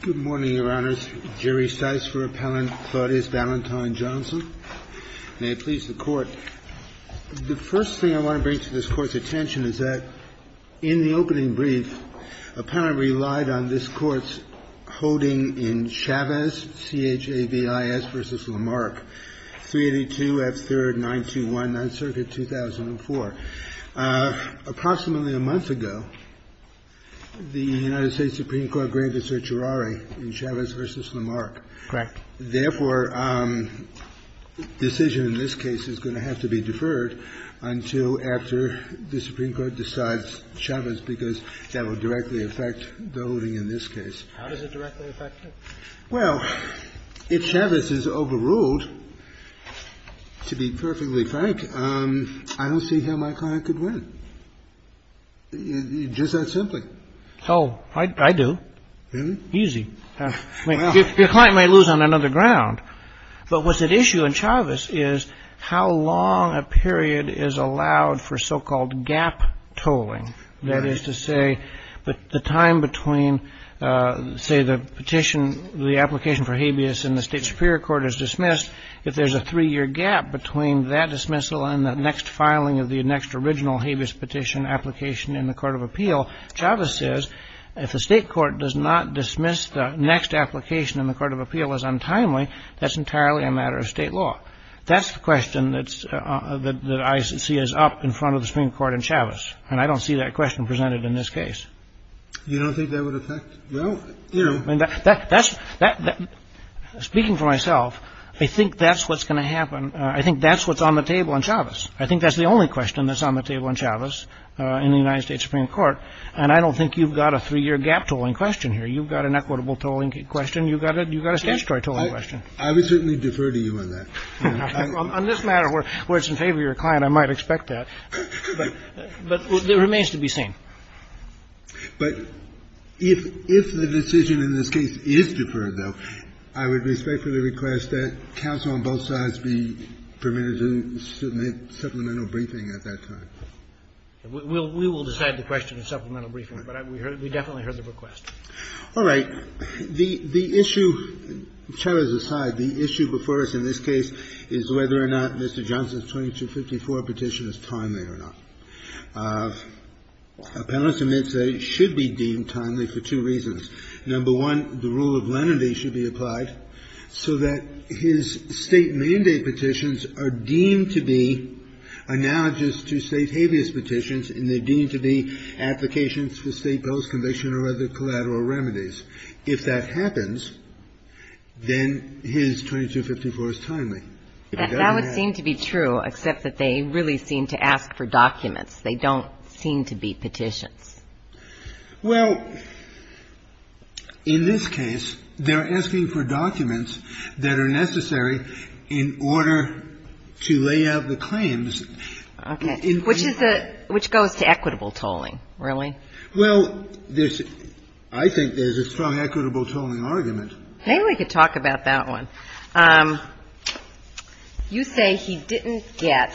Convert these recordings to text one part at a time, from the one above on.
Good morning, Your Honors. Jerry Stice for Appellant, Claudius Valentine Johnson. May it please the Court. The first thing I want to bring to this Court's attention is that, in the opening brief, Appellant relied on this Court's holding in Chavez, C-H-A-V-I-S v. Lamarck, 382 F. 3rd, 921, 9th Circuit, 2004. Approximately a month ago, the United States Supreme Court granted certiorari in Chavez v. Lamarck. Correct. Therefore, decision in this case is going to have to be deferred until after the Supreme Court decides Chavez, because that will directly affect the holding in this case. How does it directly affect it? Well, if Chavez is overruled, to be perfectly frank, I don't see how my client could win, just that simply. Oh, I do. Really? Easy. Your client may lose on another ground. But what's at issue in Chavez is how long a period is allowed for so-called gap tolling. That is to say, the time between, say, the petition, the application for habeas in the state superior court is dismissed, if there's a three-year gap between that dismissal and the next filing of the next original habeas petition application in the court of appeal, Chavez says, if the state court does not dismiss the next application in the court of appeal as untimely, that's entirely a matter of state law. That's the question that I see as up in front of the Supreme Court in Chavez. And I don't see that question presented in this case. You don't think that would affect? Well, you know. That's speaking for myself. I think that's what's going to happen. I think that's what's on the table in Chavez. I think that's the only question that's on the table in Chavez in the United States Supreme Court. And I don't think you've got a three-year gap tolling question here. You've got an equitable tolling question. You've got it. You've got a statutory tolling question. I would certainly defer to you on that. On this matter, where it's in favor of your client, I might expect that. But it remains to be seen. But if the decision in this case is deferred, though, I would respectfully request that counsel on both sides be permitted to submit supplemental briefing at that time. We will decide the question in supplemental briefing. But we definitely heard the request. All right. The issue, Chavez aside, the issue before us in this case is whether or not Mr. Johnson's 2254 petition is timely or not. Appellants admit that it should be deemed timely for two reasons. Number one, the rule of lenity should be applied so that his State mandate petitions are deemed to be analogous to State habeas petitions, and they're deemed to be applications for State bills, conviction, or other collateral remedies. If that happens, then his 2254 is timely. That would seem to be true, except that they really seem to ask for documents. They don't seem to be petitions. Well, in this case, they're asking for documents that are necessary in order to lay out the claims. Okay. Which is a – which goes to equitable tolling, really. Well, there's – I think there's a strong equitable tolling argument. Maybe we could talk about that one. You say he didn't get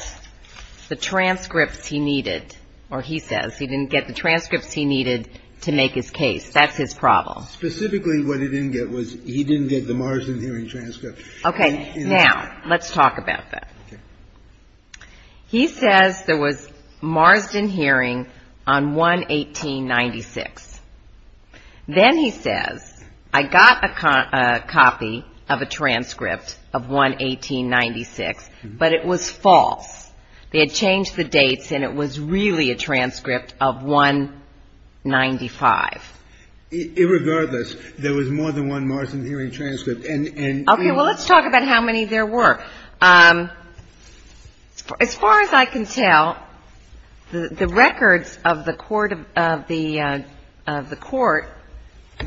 the transcripts he needed, or he says he didn't get the transcripts he needed to make his case. That's his problem. Specifically, what he didn't get was he didn't get the Marsden hearing transcript. Okay. Now, let's talk about that. Okay. He says there was Marsden hearing on 1-1896. Then he says, I got a copy of a transcript of 1-1896, but it was false. They had changed the dates, and it was really a transcript of 1-95. Irregardless, there was more than one Marsden hearing transcript. Okay. Well, let's talk about how many there were. As far as I can tell, the records of the court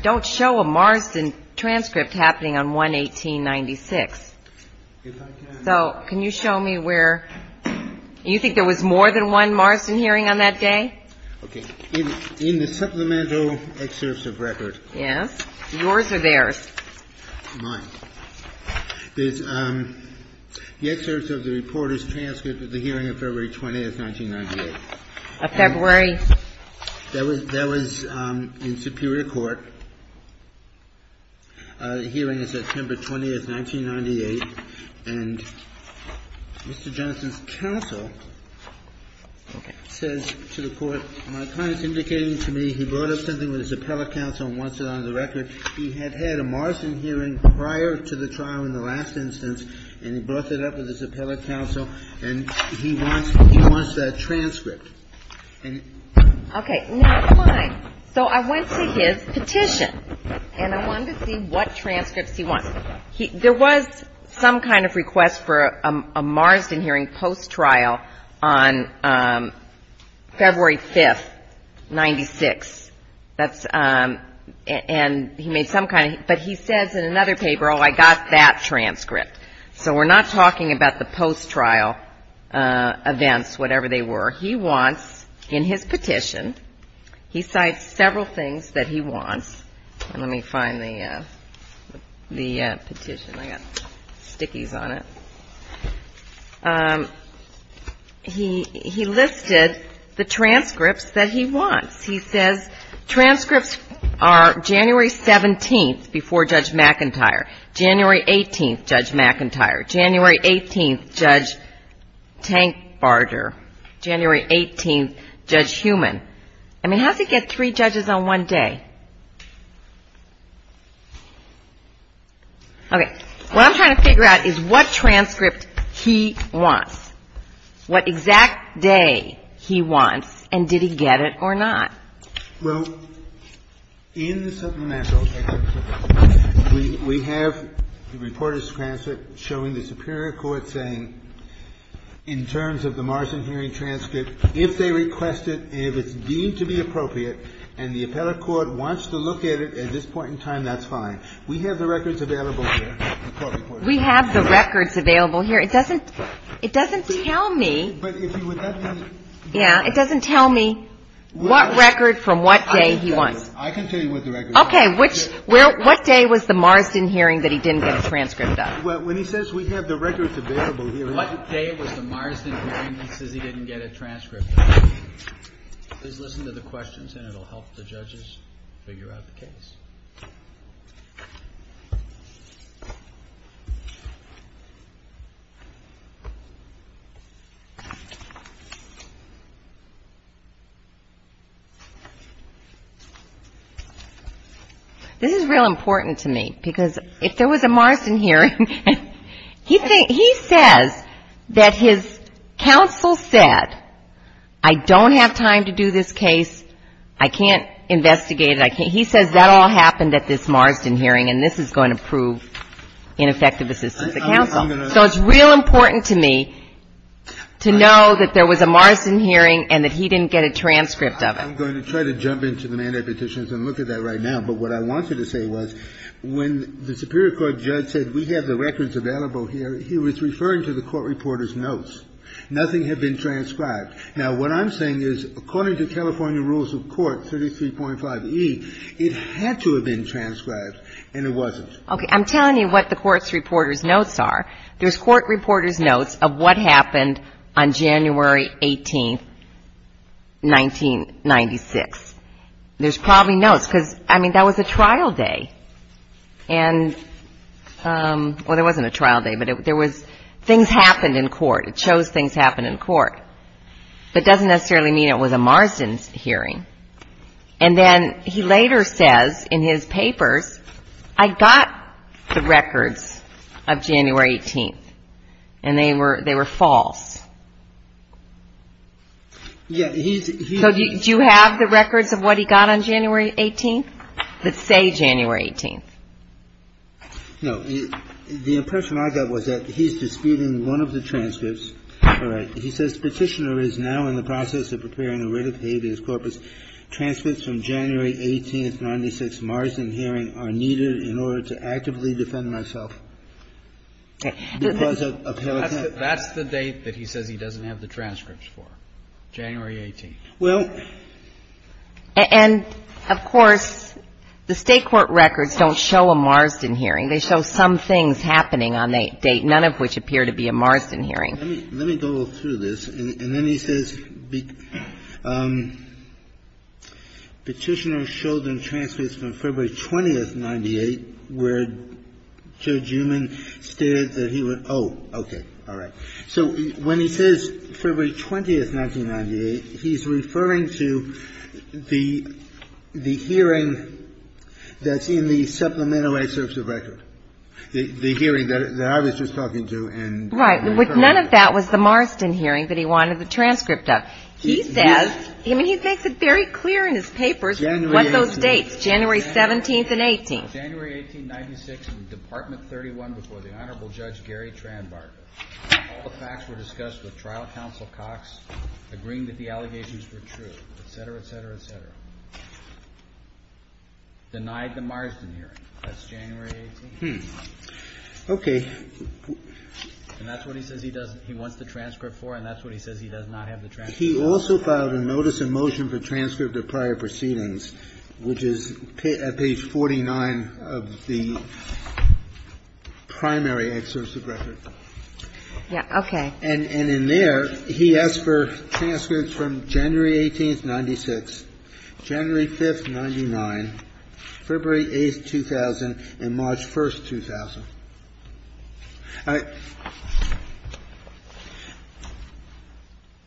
don't show a Marsden transcript happening on 1-1896. So can you show me where – you think there was more than one Marsden hearing on that day? Okay. In the supplemental excerpts of record. Yes. Yours or theirs? Mine. The excerpts of the report is transcript of the hearing of February 20th, 1998. Of February. That was in Superior Court. The hearing is September 20th, 1998. And Mr. Jennison's counsel says to the court, My client is indicating to me he brought up something with his appellate counsel and wants it on the record. He had had a Marsden hearing prior to the trial in the last instance, and he brought that up with his appellate counsel, and he wants that transcript. Okay. Now, come on. So I went to his petition, and I wanted to see what transcripts he wants. There was some kind of request for a Marsden hearing post-trial on February 5th, 1996. And he made some kind of – but he says in another paper, Oh, I got that transcript. So we're not talking about the post-trial events, whatever they were. He wants in his petition – he cites several things that he wants. Let me find the petition. I've got stickies on it. He listed the transcripts that he wants. He says transcripts are January 17th, before Judge McIntyre. January 18th, Judge McIntyre. January 18th, Judge Tankbarger. January 18th, Judge Heumann. I mean, how does he get three judges on one day? Okay. What I'm trying to figure out is what transcript he wants, what exact day he wants, and did he get it or not. Well, in the supplemental, we have the reporter's transcript showing the superior court saying, in terms of the Marsden hearing transcript, if they request it and if it's deemed to be appropriate and the appellate court wants to look at it at this point in time, that's fine. We have the records available here. We have the records available here. It doesn't – it doesn't tell me. Yeah. It doesn't tell me what record from what day he wants. I can tell you what the record is. Okay. Which – what day was the Marsden hearing that he didn't get a transcript of? Well, when he says we have the records available here. What day was the Marsden hearing he says he didn't get a transcript of? Please listen to the questions, and it will help the judges figure out the case. This is real important to me, because if there was a Marsden hearing, he says that his counsel said, I don't have time to do this case. I can't investigate it. He says that all happened at this Marsden hearing, and this is going to prove ineffective assistance to counsel. So it's real important to me to know that there was a Marsden hearing and that he didn't get a transcript of it. I'm going to try to jump into the mandate petitions and look at that right now. But what I wanted to say was, when the Superior Court judge said we have the records available here, he was referring to the court reporter's notes. Nothing had been transcribed. Now, what I'm saying is, according to California rules of court, 33.5E, it had to have been transcribed, and it wasn't. Okay. I'm telling you what the court reporter's notes are. There's court reporter's notes of what happened on January 18th, 1996. There's probably notes, because, I mean, that was a trial day. And well, it wasn't a trial day, but there was things happened in court. It shows things happened in court. But it doesn't necessarily mean it was a Marsden hearing. And then he later says in his papers, I got the records of January 18th, and they were false. So do you have the records of what he got on January 18th that say January 18th? No. The impression I got was that he's disputing one of the transcripts. All right. He says, Petitioner is now in the process of preparing a writ of habeas corpus. Transcripts from January 18th, 1996, Marsden hearing are needed in order to actively defend myself. Okay. That's the date that he said. He says he doesn't have the transcripts for January 18th. Well — And, of course, the State court records don't show a Marsden hearing. They show some things happening on that date, none of which appear to be a Marsden hearing. Let me go through this. And then he says Petitioner showed them transcripts from February 20th, 1998, where Judge Eumann stated that he would — oh, okay. All right. So when he says February 20th, 1998, he's referring to the hearing that's in the Supplemental Assertive Record, the hearing that I was just talking to and — Right. But none of that was the Marsden hearing that he wanted the transcript of. He says — I mean, he makes it very clear in his papers what those dates, January 17th and 18th. January 18, 1996, in Department 31 before the Honorable Judge Gary Tranbarger. All the facts were discussed with Trial Counsel Cox, agreeing that the allegations were true, et cetera, et cetera, et cetera. Denied the Marsden hearing. That's January 18th. Okay. And that's what he says he wants the transcript for, and that's what he says he does not have the transcript for. He also filed a notice of motion for transcript of prior proceedings, which is at page 49 of the primary assertive record. Yeah. Okay. And in there, he asks for transcripts from January 18th, 1996, January 5th, 1999, February 8th, 2000, and March 1st, 2000.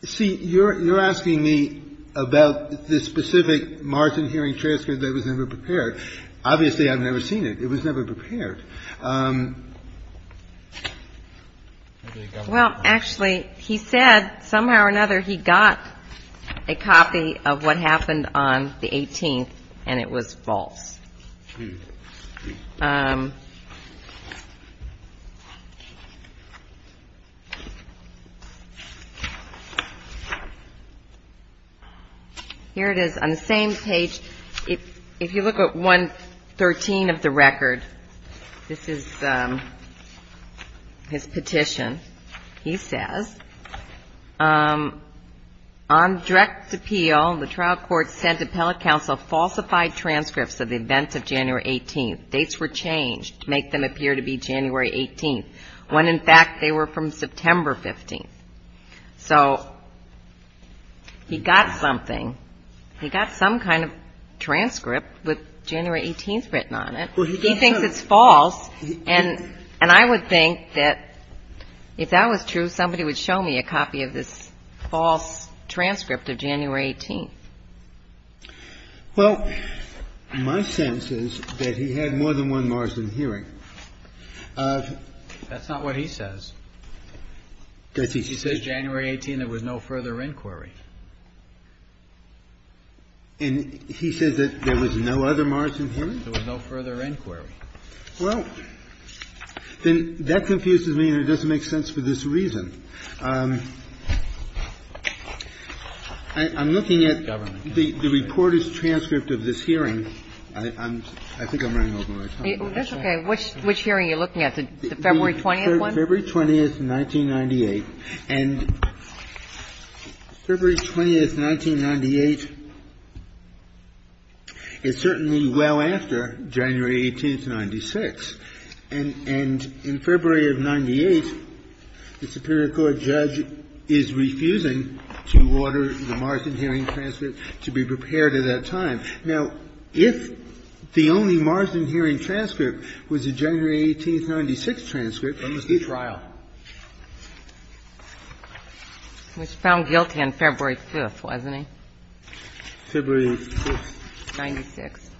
See, you're asking me about the specific Marsden hearing transcript that was never prepared. Obviously, I've never seen it. It was never prepared. Well, actually, he said somehow or another he got a copy of what happened on the 18th, and it was false. Here it is. On the same page, if you look at 113 of the record, this is his petition. He says, on direct appeal, the trial court sent appellate counsel falsified transcripts of the adjudicator's dates were changed to make them appear to be January 18th, when, in fact, they were from September 15th. So he got something. He got some kind of transcript with January 18th written on it. He thinks it's false. And I would think that if that was true, somebody would show me a copy of this false transcript of January 18th. Well, my sense is that he had more than one Marsden hearing. That's not what he says. He says January 18th, there was no further inquiry. And he says that there was no other Marsden hearing? There was no further inquiry. Well, then that confuses me, and it doesn't make sense for this reason. I'm looking at the reporter's transcript of this hearing. I think I'm running over my time. That's okay. Which hearing are you looking at, the February 20th one? February 20th, 1998. And February 20th, 1998 is certainly well after January 18th, 1996. And in February of 1998, the superior court judge is refusing to order the Marsden hearing transcript to be prepared at that time. Now, if the only Marsden hearing transcript was the January 18th, 1996 transcript, he's guilty. But it was a trial. He was found guilty on February 5th, wasn't he? February 5th. 1996.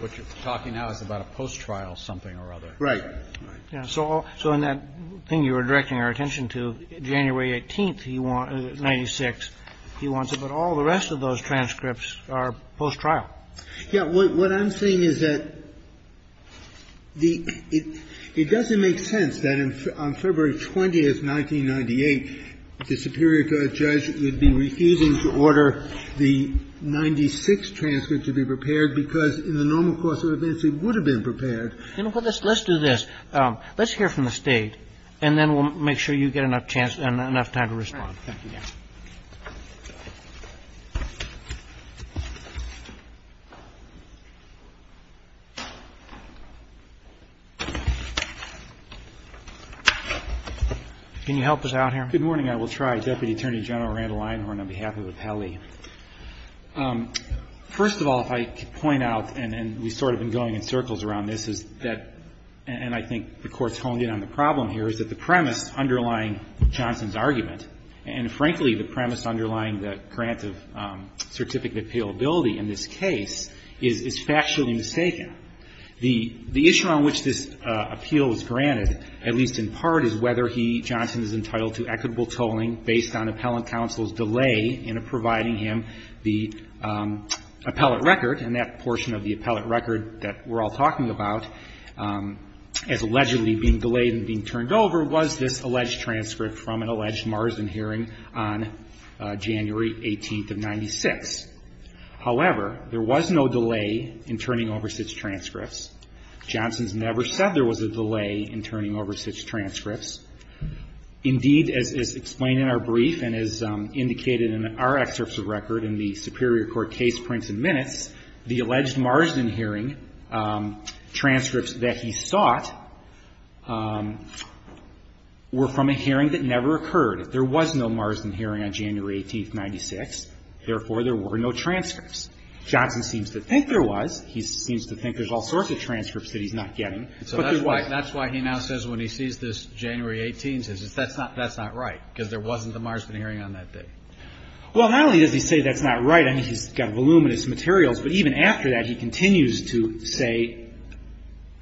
What you're talking now is about a post-trial something or other. Right. So in that thing you were directing our attention to, January 18th, 1996, he wants it, but all the rest of those transcripts are post-trial. Yes. What I'm saying is that it doesn't make sense that on February 20th, 1998, the superior court judge would be refusing to order the 1996 transcript to be prepared because in the normal course of events, it would have been prepared. Let's do this. Let's hear from the State, and then we'll make sure you get enough chance and enough time to respond. Thank you, Your Honor. Can you help us out here? Good morning. I will try. Deputy Attorney General Randall Einhorn on behalf of the Pele. First of all, if I could point out, and we've sort of been going in circles around this, is that, and I think the Court's honed in on the problem here, is that the premise underlying Johnson's argument, and frankly, the premise underlying the grant of certificate of appealability in this case, is factually mistaken. The issue on which this appeal is granted, at least in part, is whether he, Johnson, is entitled to equitable tolling based on appellant counsel's delay in providing him the appellate record, and that portion of the appellate record that we're all talking about as allegedly being delayed and being turned over was this alleged transcript from an alleged Marsden hearing on January 18th of 1996. However, there was no delay in turning over such transcripts. Johnson's never said there was a delay in turning over such transcripts. Indeed, as is explained in our brief and as indicated in our excerpts of record in the Superior Court Case Prints and Minutes, the alleged Marsden hearing transcripts that he sought were from a hearing that never occurred. There was no Marsden hearing on January 18th, 1996. Therefore, there were no transcripts. Johnson seems to think there was. He seems to think there's all sorts of transcripts that he's not getting. But there was. So that's why he now says when he sees this January 18th, he says, that's not right, because there wasn't a Marsden hearing on that day. Well, not only does he say that's not right. I mean, he's got voluminous materials. But even after that, he continues to say,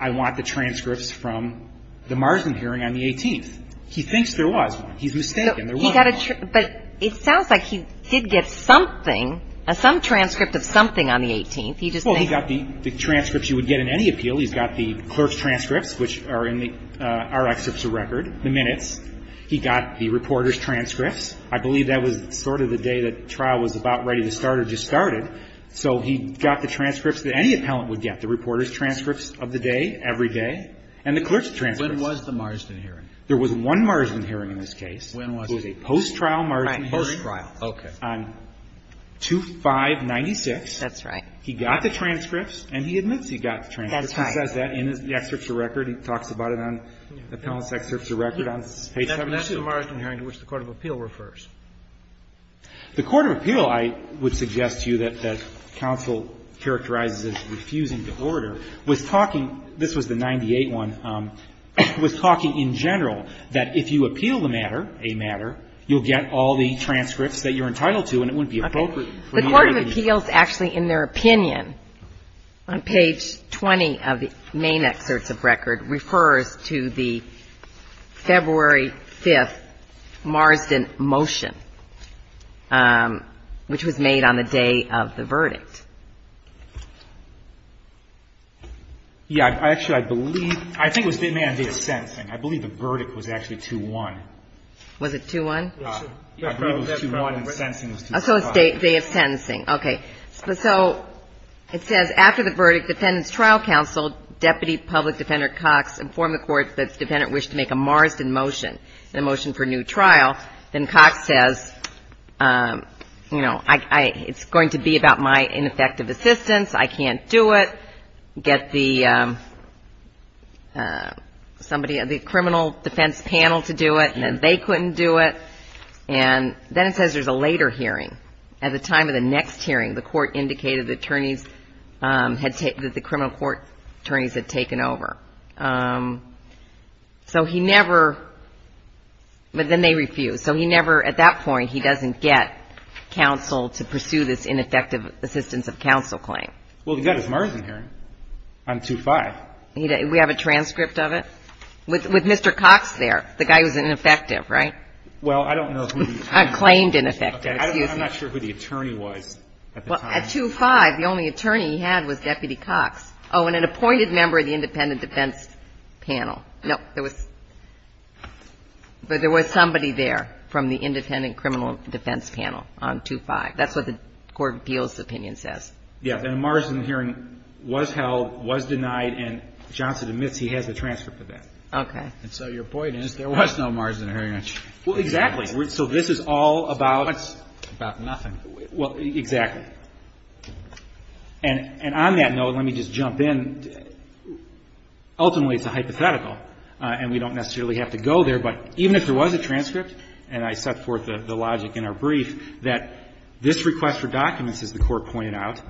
I want the transcripts from the Marsden hearing on the 18th. He thinks there was one. He's mistaken. There was one. But it sounds like he did get something, some transcript of something on the 18th. Well, he got the transcripts you would get in any appeal. He's got the clerk's transcripts, which are in our excerpts of record, the minutes. He got the reporter's transcripts. I believe that was sort of the day that trial was about ready to start or just started. So he got the transcripts that any appellant would get, the reporter's transcripts of the day, every day, and the clerk's transcripts. When was the Marsden hearing? There was one Marsden hearing in this case. When was it? It was a post-trial Marsden hearing. Right, post-trial. On 2596. He got the transcripts, and he admits he got the transcripts. That's right. He says that in the excerpts of record. He talks about it on the appellant's excerpts of record on page 72. That's the Marsden hearing to which the court of appeal refers. The court of appeal, I would suggest to you that counsel characterizes as refusing to order, was talking, this was the 98 one, was talking in general that if you appeal the matter, a matter, you'll get all the transcripts that you're entitled to, and it wouldn't be appropriate for you to get the transcripts. The court of appeals, actually, in their opinion, on page 20 of the main excerpts of record, refers to the February 5th Marsden motion, which was made on the day of the verdict. Yeah, actually, I believe, I think it was the day of sentencing. I believe the verdict was actually 2-1. Was it 2-1? So it's the day of sentencing. Okay. So it says, after the verdict, defendant's trial counsel, deputy public defender Cox, informed the court that the defendant wished to make a Marsden motion, a motion for new trial. Then Cox says, you know, it's going to be about my ineffective assistance. I can't do it. Get the criminal defense panel to do it, and then they couldn't do it. And then it says there's a later hearing. At the time of the next hearing, the court indicated the attorneys had taken, that the criminal court attorneys had taken over. So he never, but then they refused. So he never, at that point, he doesn't get counsel to pursue this ineffective assistance of counsel claim. Well, he got his Marsden hearing on 2-5. We have a transcript of it? With Mr. Cox there, the guy who's ineffective, right? Well, I don't know who the attorney was. Claimed, in effect. Okay. I'm not sure who the attorney was at the time. Well, at 2-5, the only attorney he had was Deputy Cox. Oh, and an appointed member of the independent defense panel. No, there was somebody there from the independent criminal defense panel on 2-5. That's what the court of appeals opinion says. Yes. And a Marsden hearing was held, was denied, and Johnson admits he has a transcript of that. And so your point is there was no Marsden hearing. Well, exactly. So this is all about nothing. Well, exactly. And on that note, let me just jump in. Ultimately, it's a hypothetical, and we don't necessarily have to go there, but even if there was a transcript, and I set forth the logic in our brief, that this request for documents, as the Court pointed out,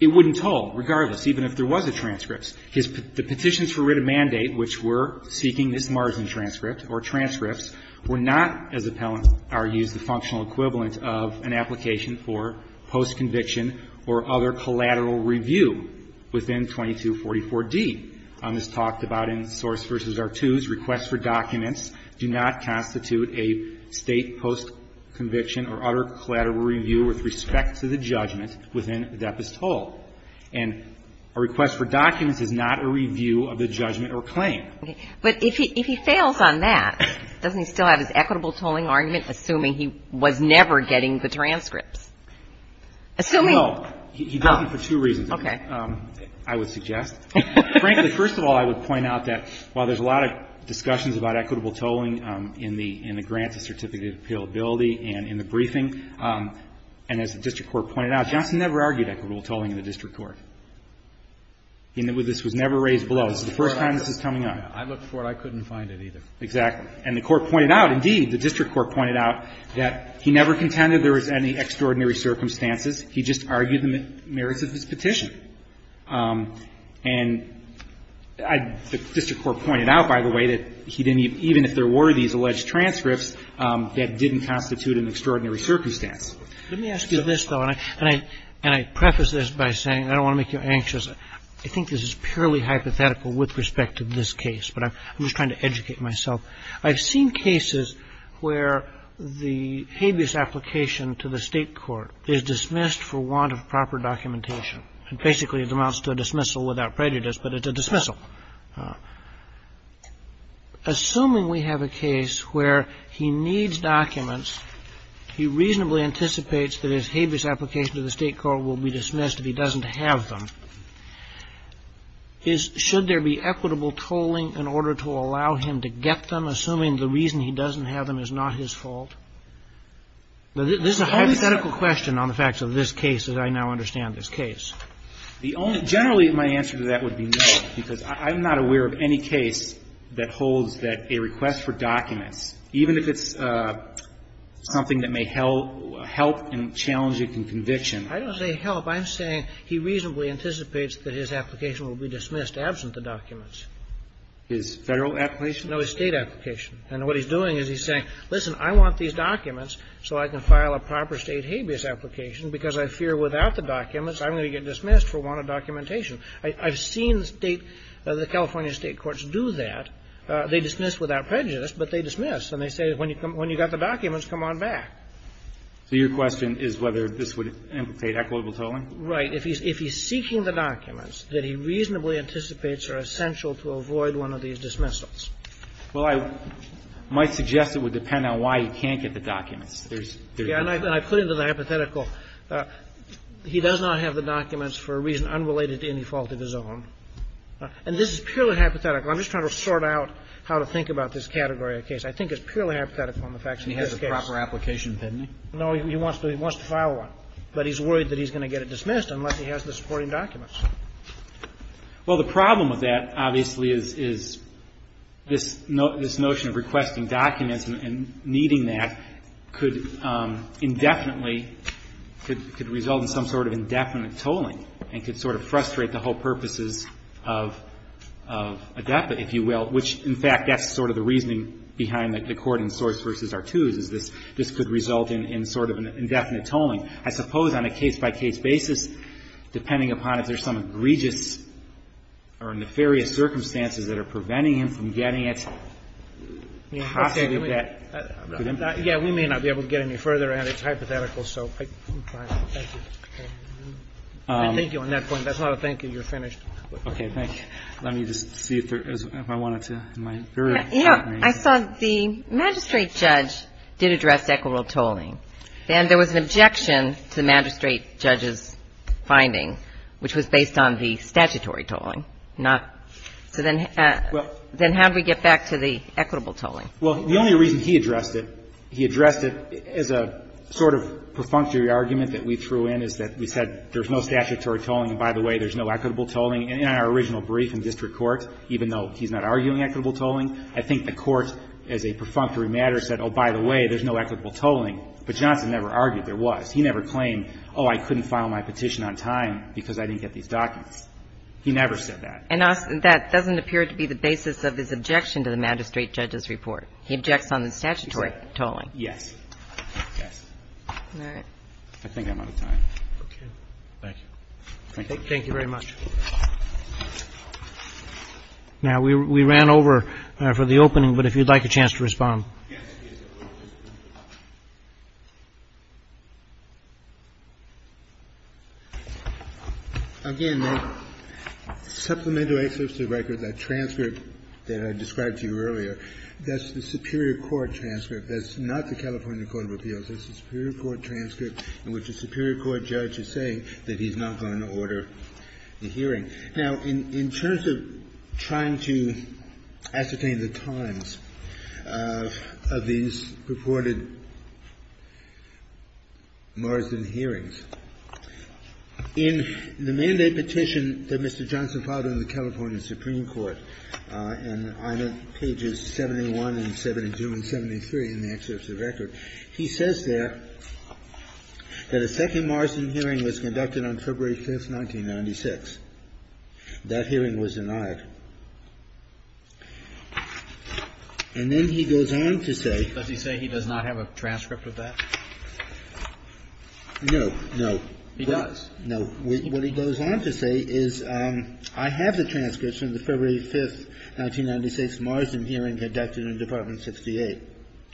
it wouldn't toll, regardless, even if there was a transcript. The petitions for writ of mandate, which were seeking this Marsden transcript or transcripts, were not, as Appellant argues, the functional equivalent of an application for post-conviction or other collateral review within 2244d. This is talked about in Source v. Artoo's request for documents do not constitute a State post-conviction or other collateral review with respect to the judgment within the depot's toll. And a request for documents is not a review of the judgment or claim. Okay. But if he fails on that, doesn't he still have his equitable tolling argument, assuming he was never getting the transcripts? Assuming. No. He doesn't for two reasons. Okay. I would suggest. Frankly, first of all, I would point out that while there's a lot of discussions about equitable tolling in the grants and certificate of appealability and in the briefing, and as the district court pointed out, Johnson never argued equitable tolling in the district court. This was never raised below. This is the first time this is coming up. I looked for it. I couldn't find it either. Exactly. And the court pointed out, indeed, the district court pointed out, that he never contended there was any extraordinary circumstances. He just argued the merits of his petition. And the district court pointed out, by the way, that he didn't even if there were these alleged transcripts, that didn't constitute an extraordinary circumstance. Let me ask you this, though, and I preface this by saying I don't want to make you anxious. I think this is purely hypothetical with respect to this case, but I'm just trying to educate myself. I've seen cases where the habeas application to the state court is dismissed for want of proper documentation. And basically it amounts to a dismissal without prejudice, but it's a dismissal. Assuming we have a case where he needs documents, he reasonably anticipates that his habeas application to the state court will be dismissed if he doesn't have them. Should there be equitable tolling in order to allow him to get them, assuming the reason he doesn't have them is not his fault? This is a hypothetical question on the facts of this case, as I now understand this case. Generally, my answer to that would be no, because I'm not aware of any case that holds that a request for documents, even if it's something that may help and challenge it in conviction. I don't say help. I'm saying he reasonably anticipates that his application will be dismissed absent the documents. His Federal application? No, his State application. And what he's doing is he's saying, listen, I want these documents so I can file a proper State habeas application, because I fear without the documents I'm going to get dismissed for want of documentation. I've seen the State, the California State courts do that. They dismiss without prejudice, but they dismiss. And they say when you got the documents, come on back. So your question is whether this would implicate equitable tolling? Right. If he's seeking the documents that he reasonably anticipates are essential to avoid one of these dismissals. Well, I might suggest it would depend on why he can't get the documents. Yeah. And I put it in the hypothetical. He does not have the documents for a reason unrelated to any fault of his own. And this is purely hypothetical. I'm just trying to sort out how to think about this category of case. I think it's purely hypothetical on the facts of this case. He has a proper application, doesn't he? No. He wants to file one. But he's worried that he's going to get it dismissed unless he has the supporting documents. Well, the problem with that, obviously, is this notion of requesting documents and needing that could indefinitely, could result in some sort of indefinite tolling and could sort of frustrate the whole purposes of a deputant, if you will, which, in fact, that's sort of the reasoning behind the court in Soares v. Artooz is this could result in sort of an indefinite tolling. I suppose on a case-by-case basis, depending upon if there's some egregious or nefarious circumstances that are preventing him from getting it, possibly that could impede it. Yeah. We may not be able to get any further, and it's hypothetical. So I'm fine. Thank you. I thank you on that point. That's not a thank you. You're finished. Okay. Thank you. Let me just see if I wanted to. You know, I saw the magistrate judge did address equitable tolling. And there was an objection to the magistrate judge's finding, which was based on the statutory tolling, not so then how do we get back to the equitable tolling? Well, the only reason he addressed it, he addressed it as a sort of perfunctory argument that we threw in, is that we said there's no statutory tolling, and by the way, there's no equitable tolling. In our original brief in district court, even though he's not arguing equitable tolling, I think the Court, as a perfunctory matter, said, oh, by the way, there's no equitable tolling. But Johnson never argued there was. He never claimed, oh, I couldn't file my petition on time because I didn't get these documents. He never said that. And that doesn't appear to be the basis of his objection to the magistrate judge's report. He objects on the statutory tolling. Yes. Yes. All right. I think I'm out of time. Okay. Thank you. Thank you. Thank you very much. Now, we ran over for the opening, but if you'd like a chance to respond. Again, the supplemental excerpts to the record, that transcript that I described to you earlier, that's the superior court transcript. That's not the California Court of Appeals. That's the superior court transcript in which the superior court judge is saying that he's not going to order the hearing. Now, in terms of trying to ascertain the times, I think it's important to understand that in the mandate petition that Mr. Johnson filed in the California Supreme Court, and on pages 71 and 72 and 73 in the excerpts of the record, he says there that a second Marsden hearing was conducted on February 5th, 1996. That hearing was denied. And then he goes on to say. Does he say he does not have a transcript of that? No. No. He does. No. What he goes on to say is, I have the transcripts from the February 5th, 1996 Marsden hearing conducted in Department 58.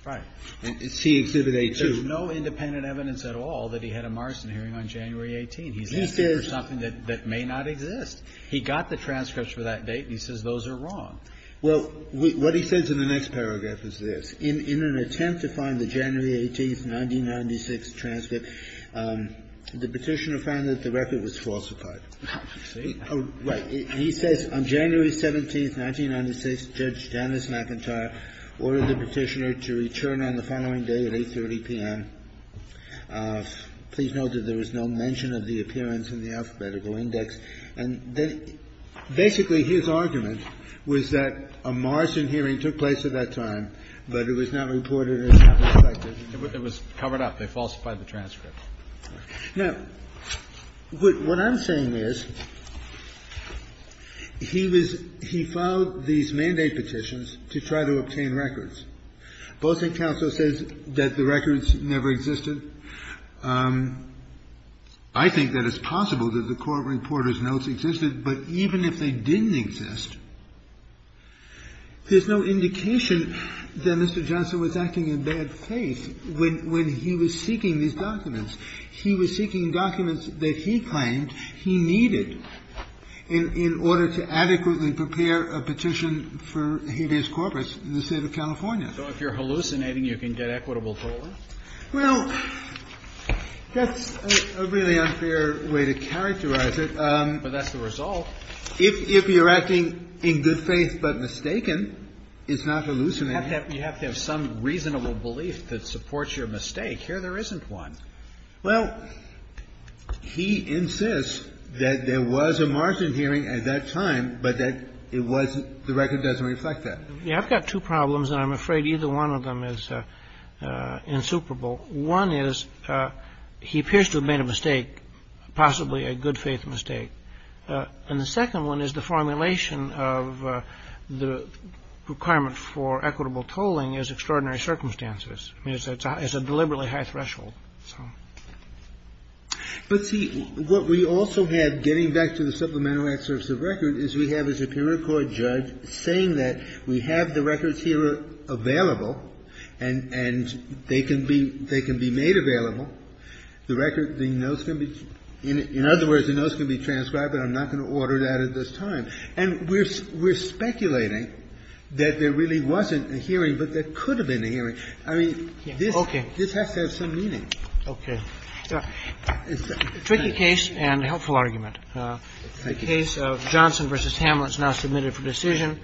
Right. It's C Exhibit A2. There's no independent evidence at all that he had a Marsden hearing on January 18. He's asking for something that may not exist. He got the transcripts for that date, and he says those are wrong. Well, what he says in the next paragraph is this. In an attempt to find the January 18th, 1996 transcript, the Petitioner found that the record was falsified. Oh, I see. Right. He says on January 17th, 1996, Judge Janice McIntyre ordered the Petitioner to return on the following day at 8.30 p.m. Please note that there was no mention of the appearance in the alphabetical index. And then basically his argument was that a Marsden hearing took place at that time, but it was not reported and it was not reflected. It was covered up. They falsified the transcript. Now, what I'm saying is he was he filed these mandate petitions to try to obtain records. Bolson Counsel says that the records never existed. I think that it's possible that the court reporter's notes existed. But even if they didn't exist, there's no indication that Mr. Johnson was acting in bad faith when he was seeking these documents. He was seeking documents that he claimed he needed in order to adequately prepare a petition for habeas corpus in the State of California. So if you're hallucinating, you can get equitable tolerance? Well, that's a really unfair way to characterize it. But that's the result. If you're acting in good faith but mistaken, it's not hallucinating. You have to have some reasonable belief that supports your mistake. Here there isn't one. Well, he insists that there was a Marsden hearing at that time, but that it wasn't the record doesn't reflect that. I've got two problems, and I'm afraid either one of them is insuperable. One is he appears to have made a mistake, possibly a good faith mistake. And the second one is the formulation of the requirement for equitable tolling is extraordinary circumstances. I mean, it's a deliberately high threshold. So. But, see, what we also have, getting back to the Supplemental Act service of record, is we have a superior court judge saying that we have the records here available and they can be made available, the record, the notes can be, in other words, the notes can be transcribed, but I'm not going to order that at this time. And we're speculating that there really wasn't a hearing, but there could have been a hearing. Okay. So it's a tricky case and a helpful argument. The case of Johnson versus Hamlet is now submitted for decision.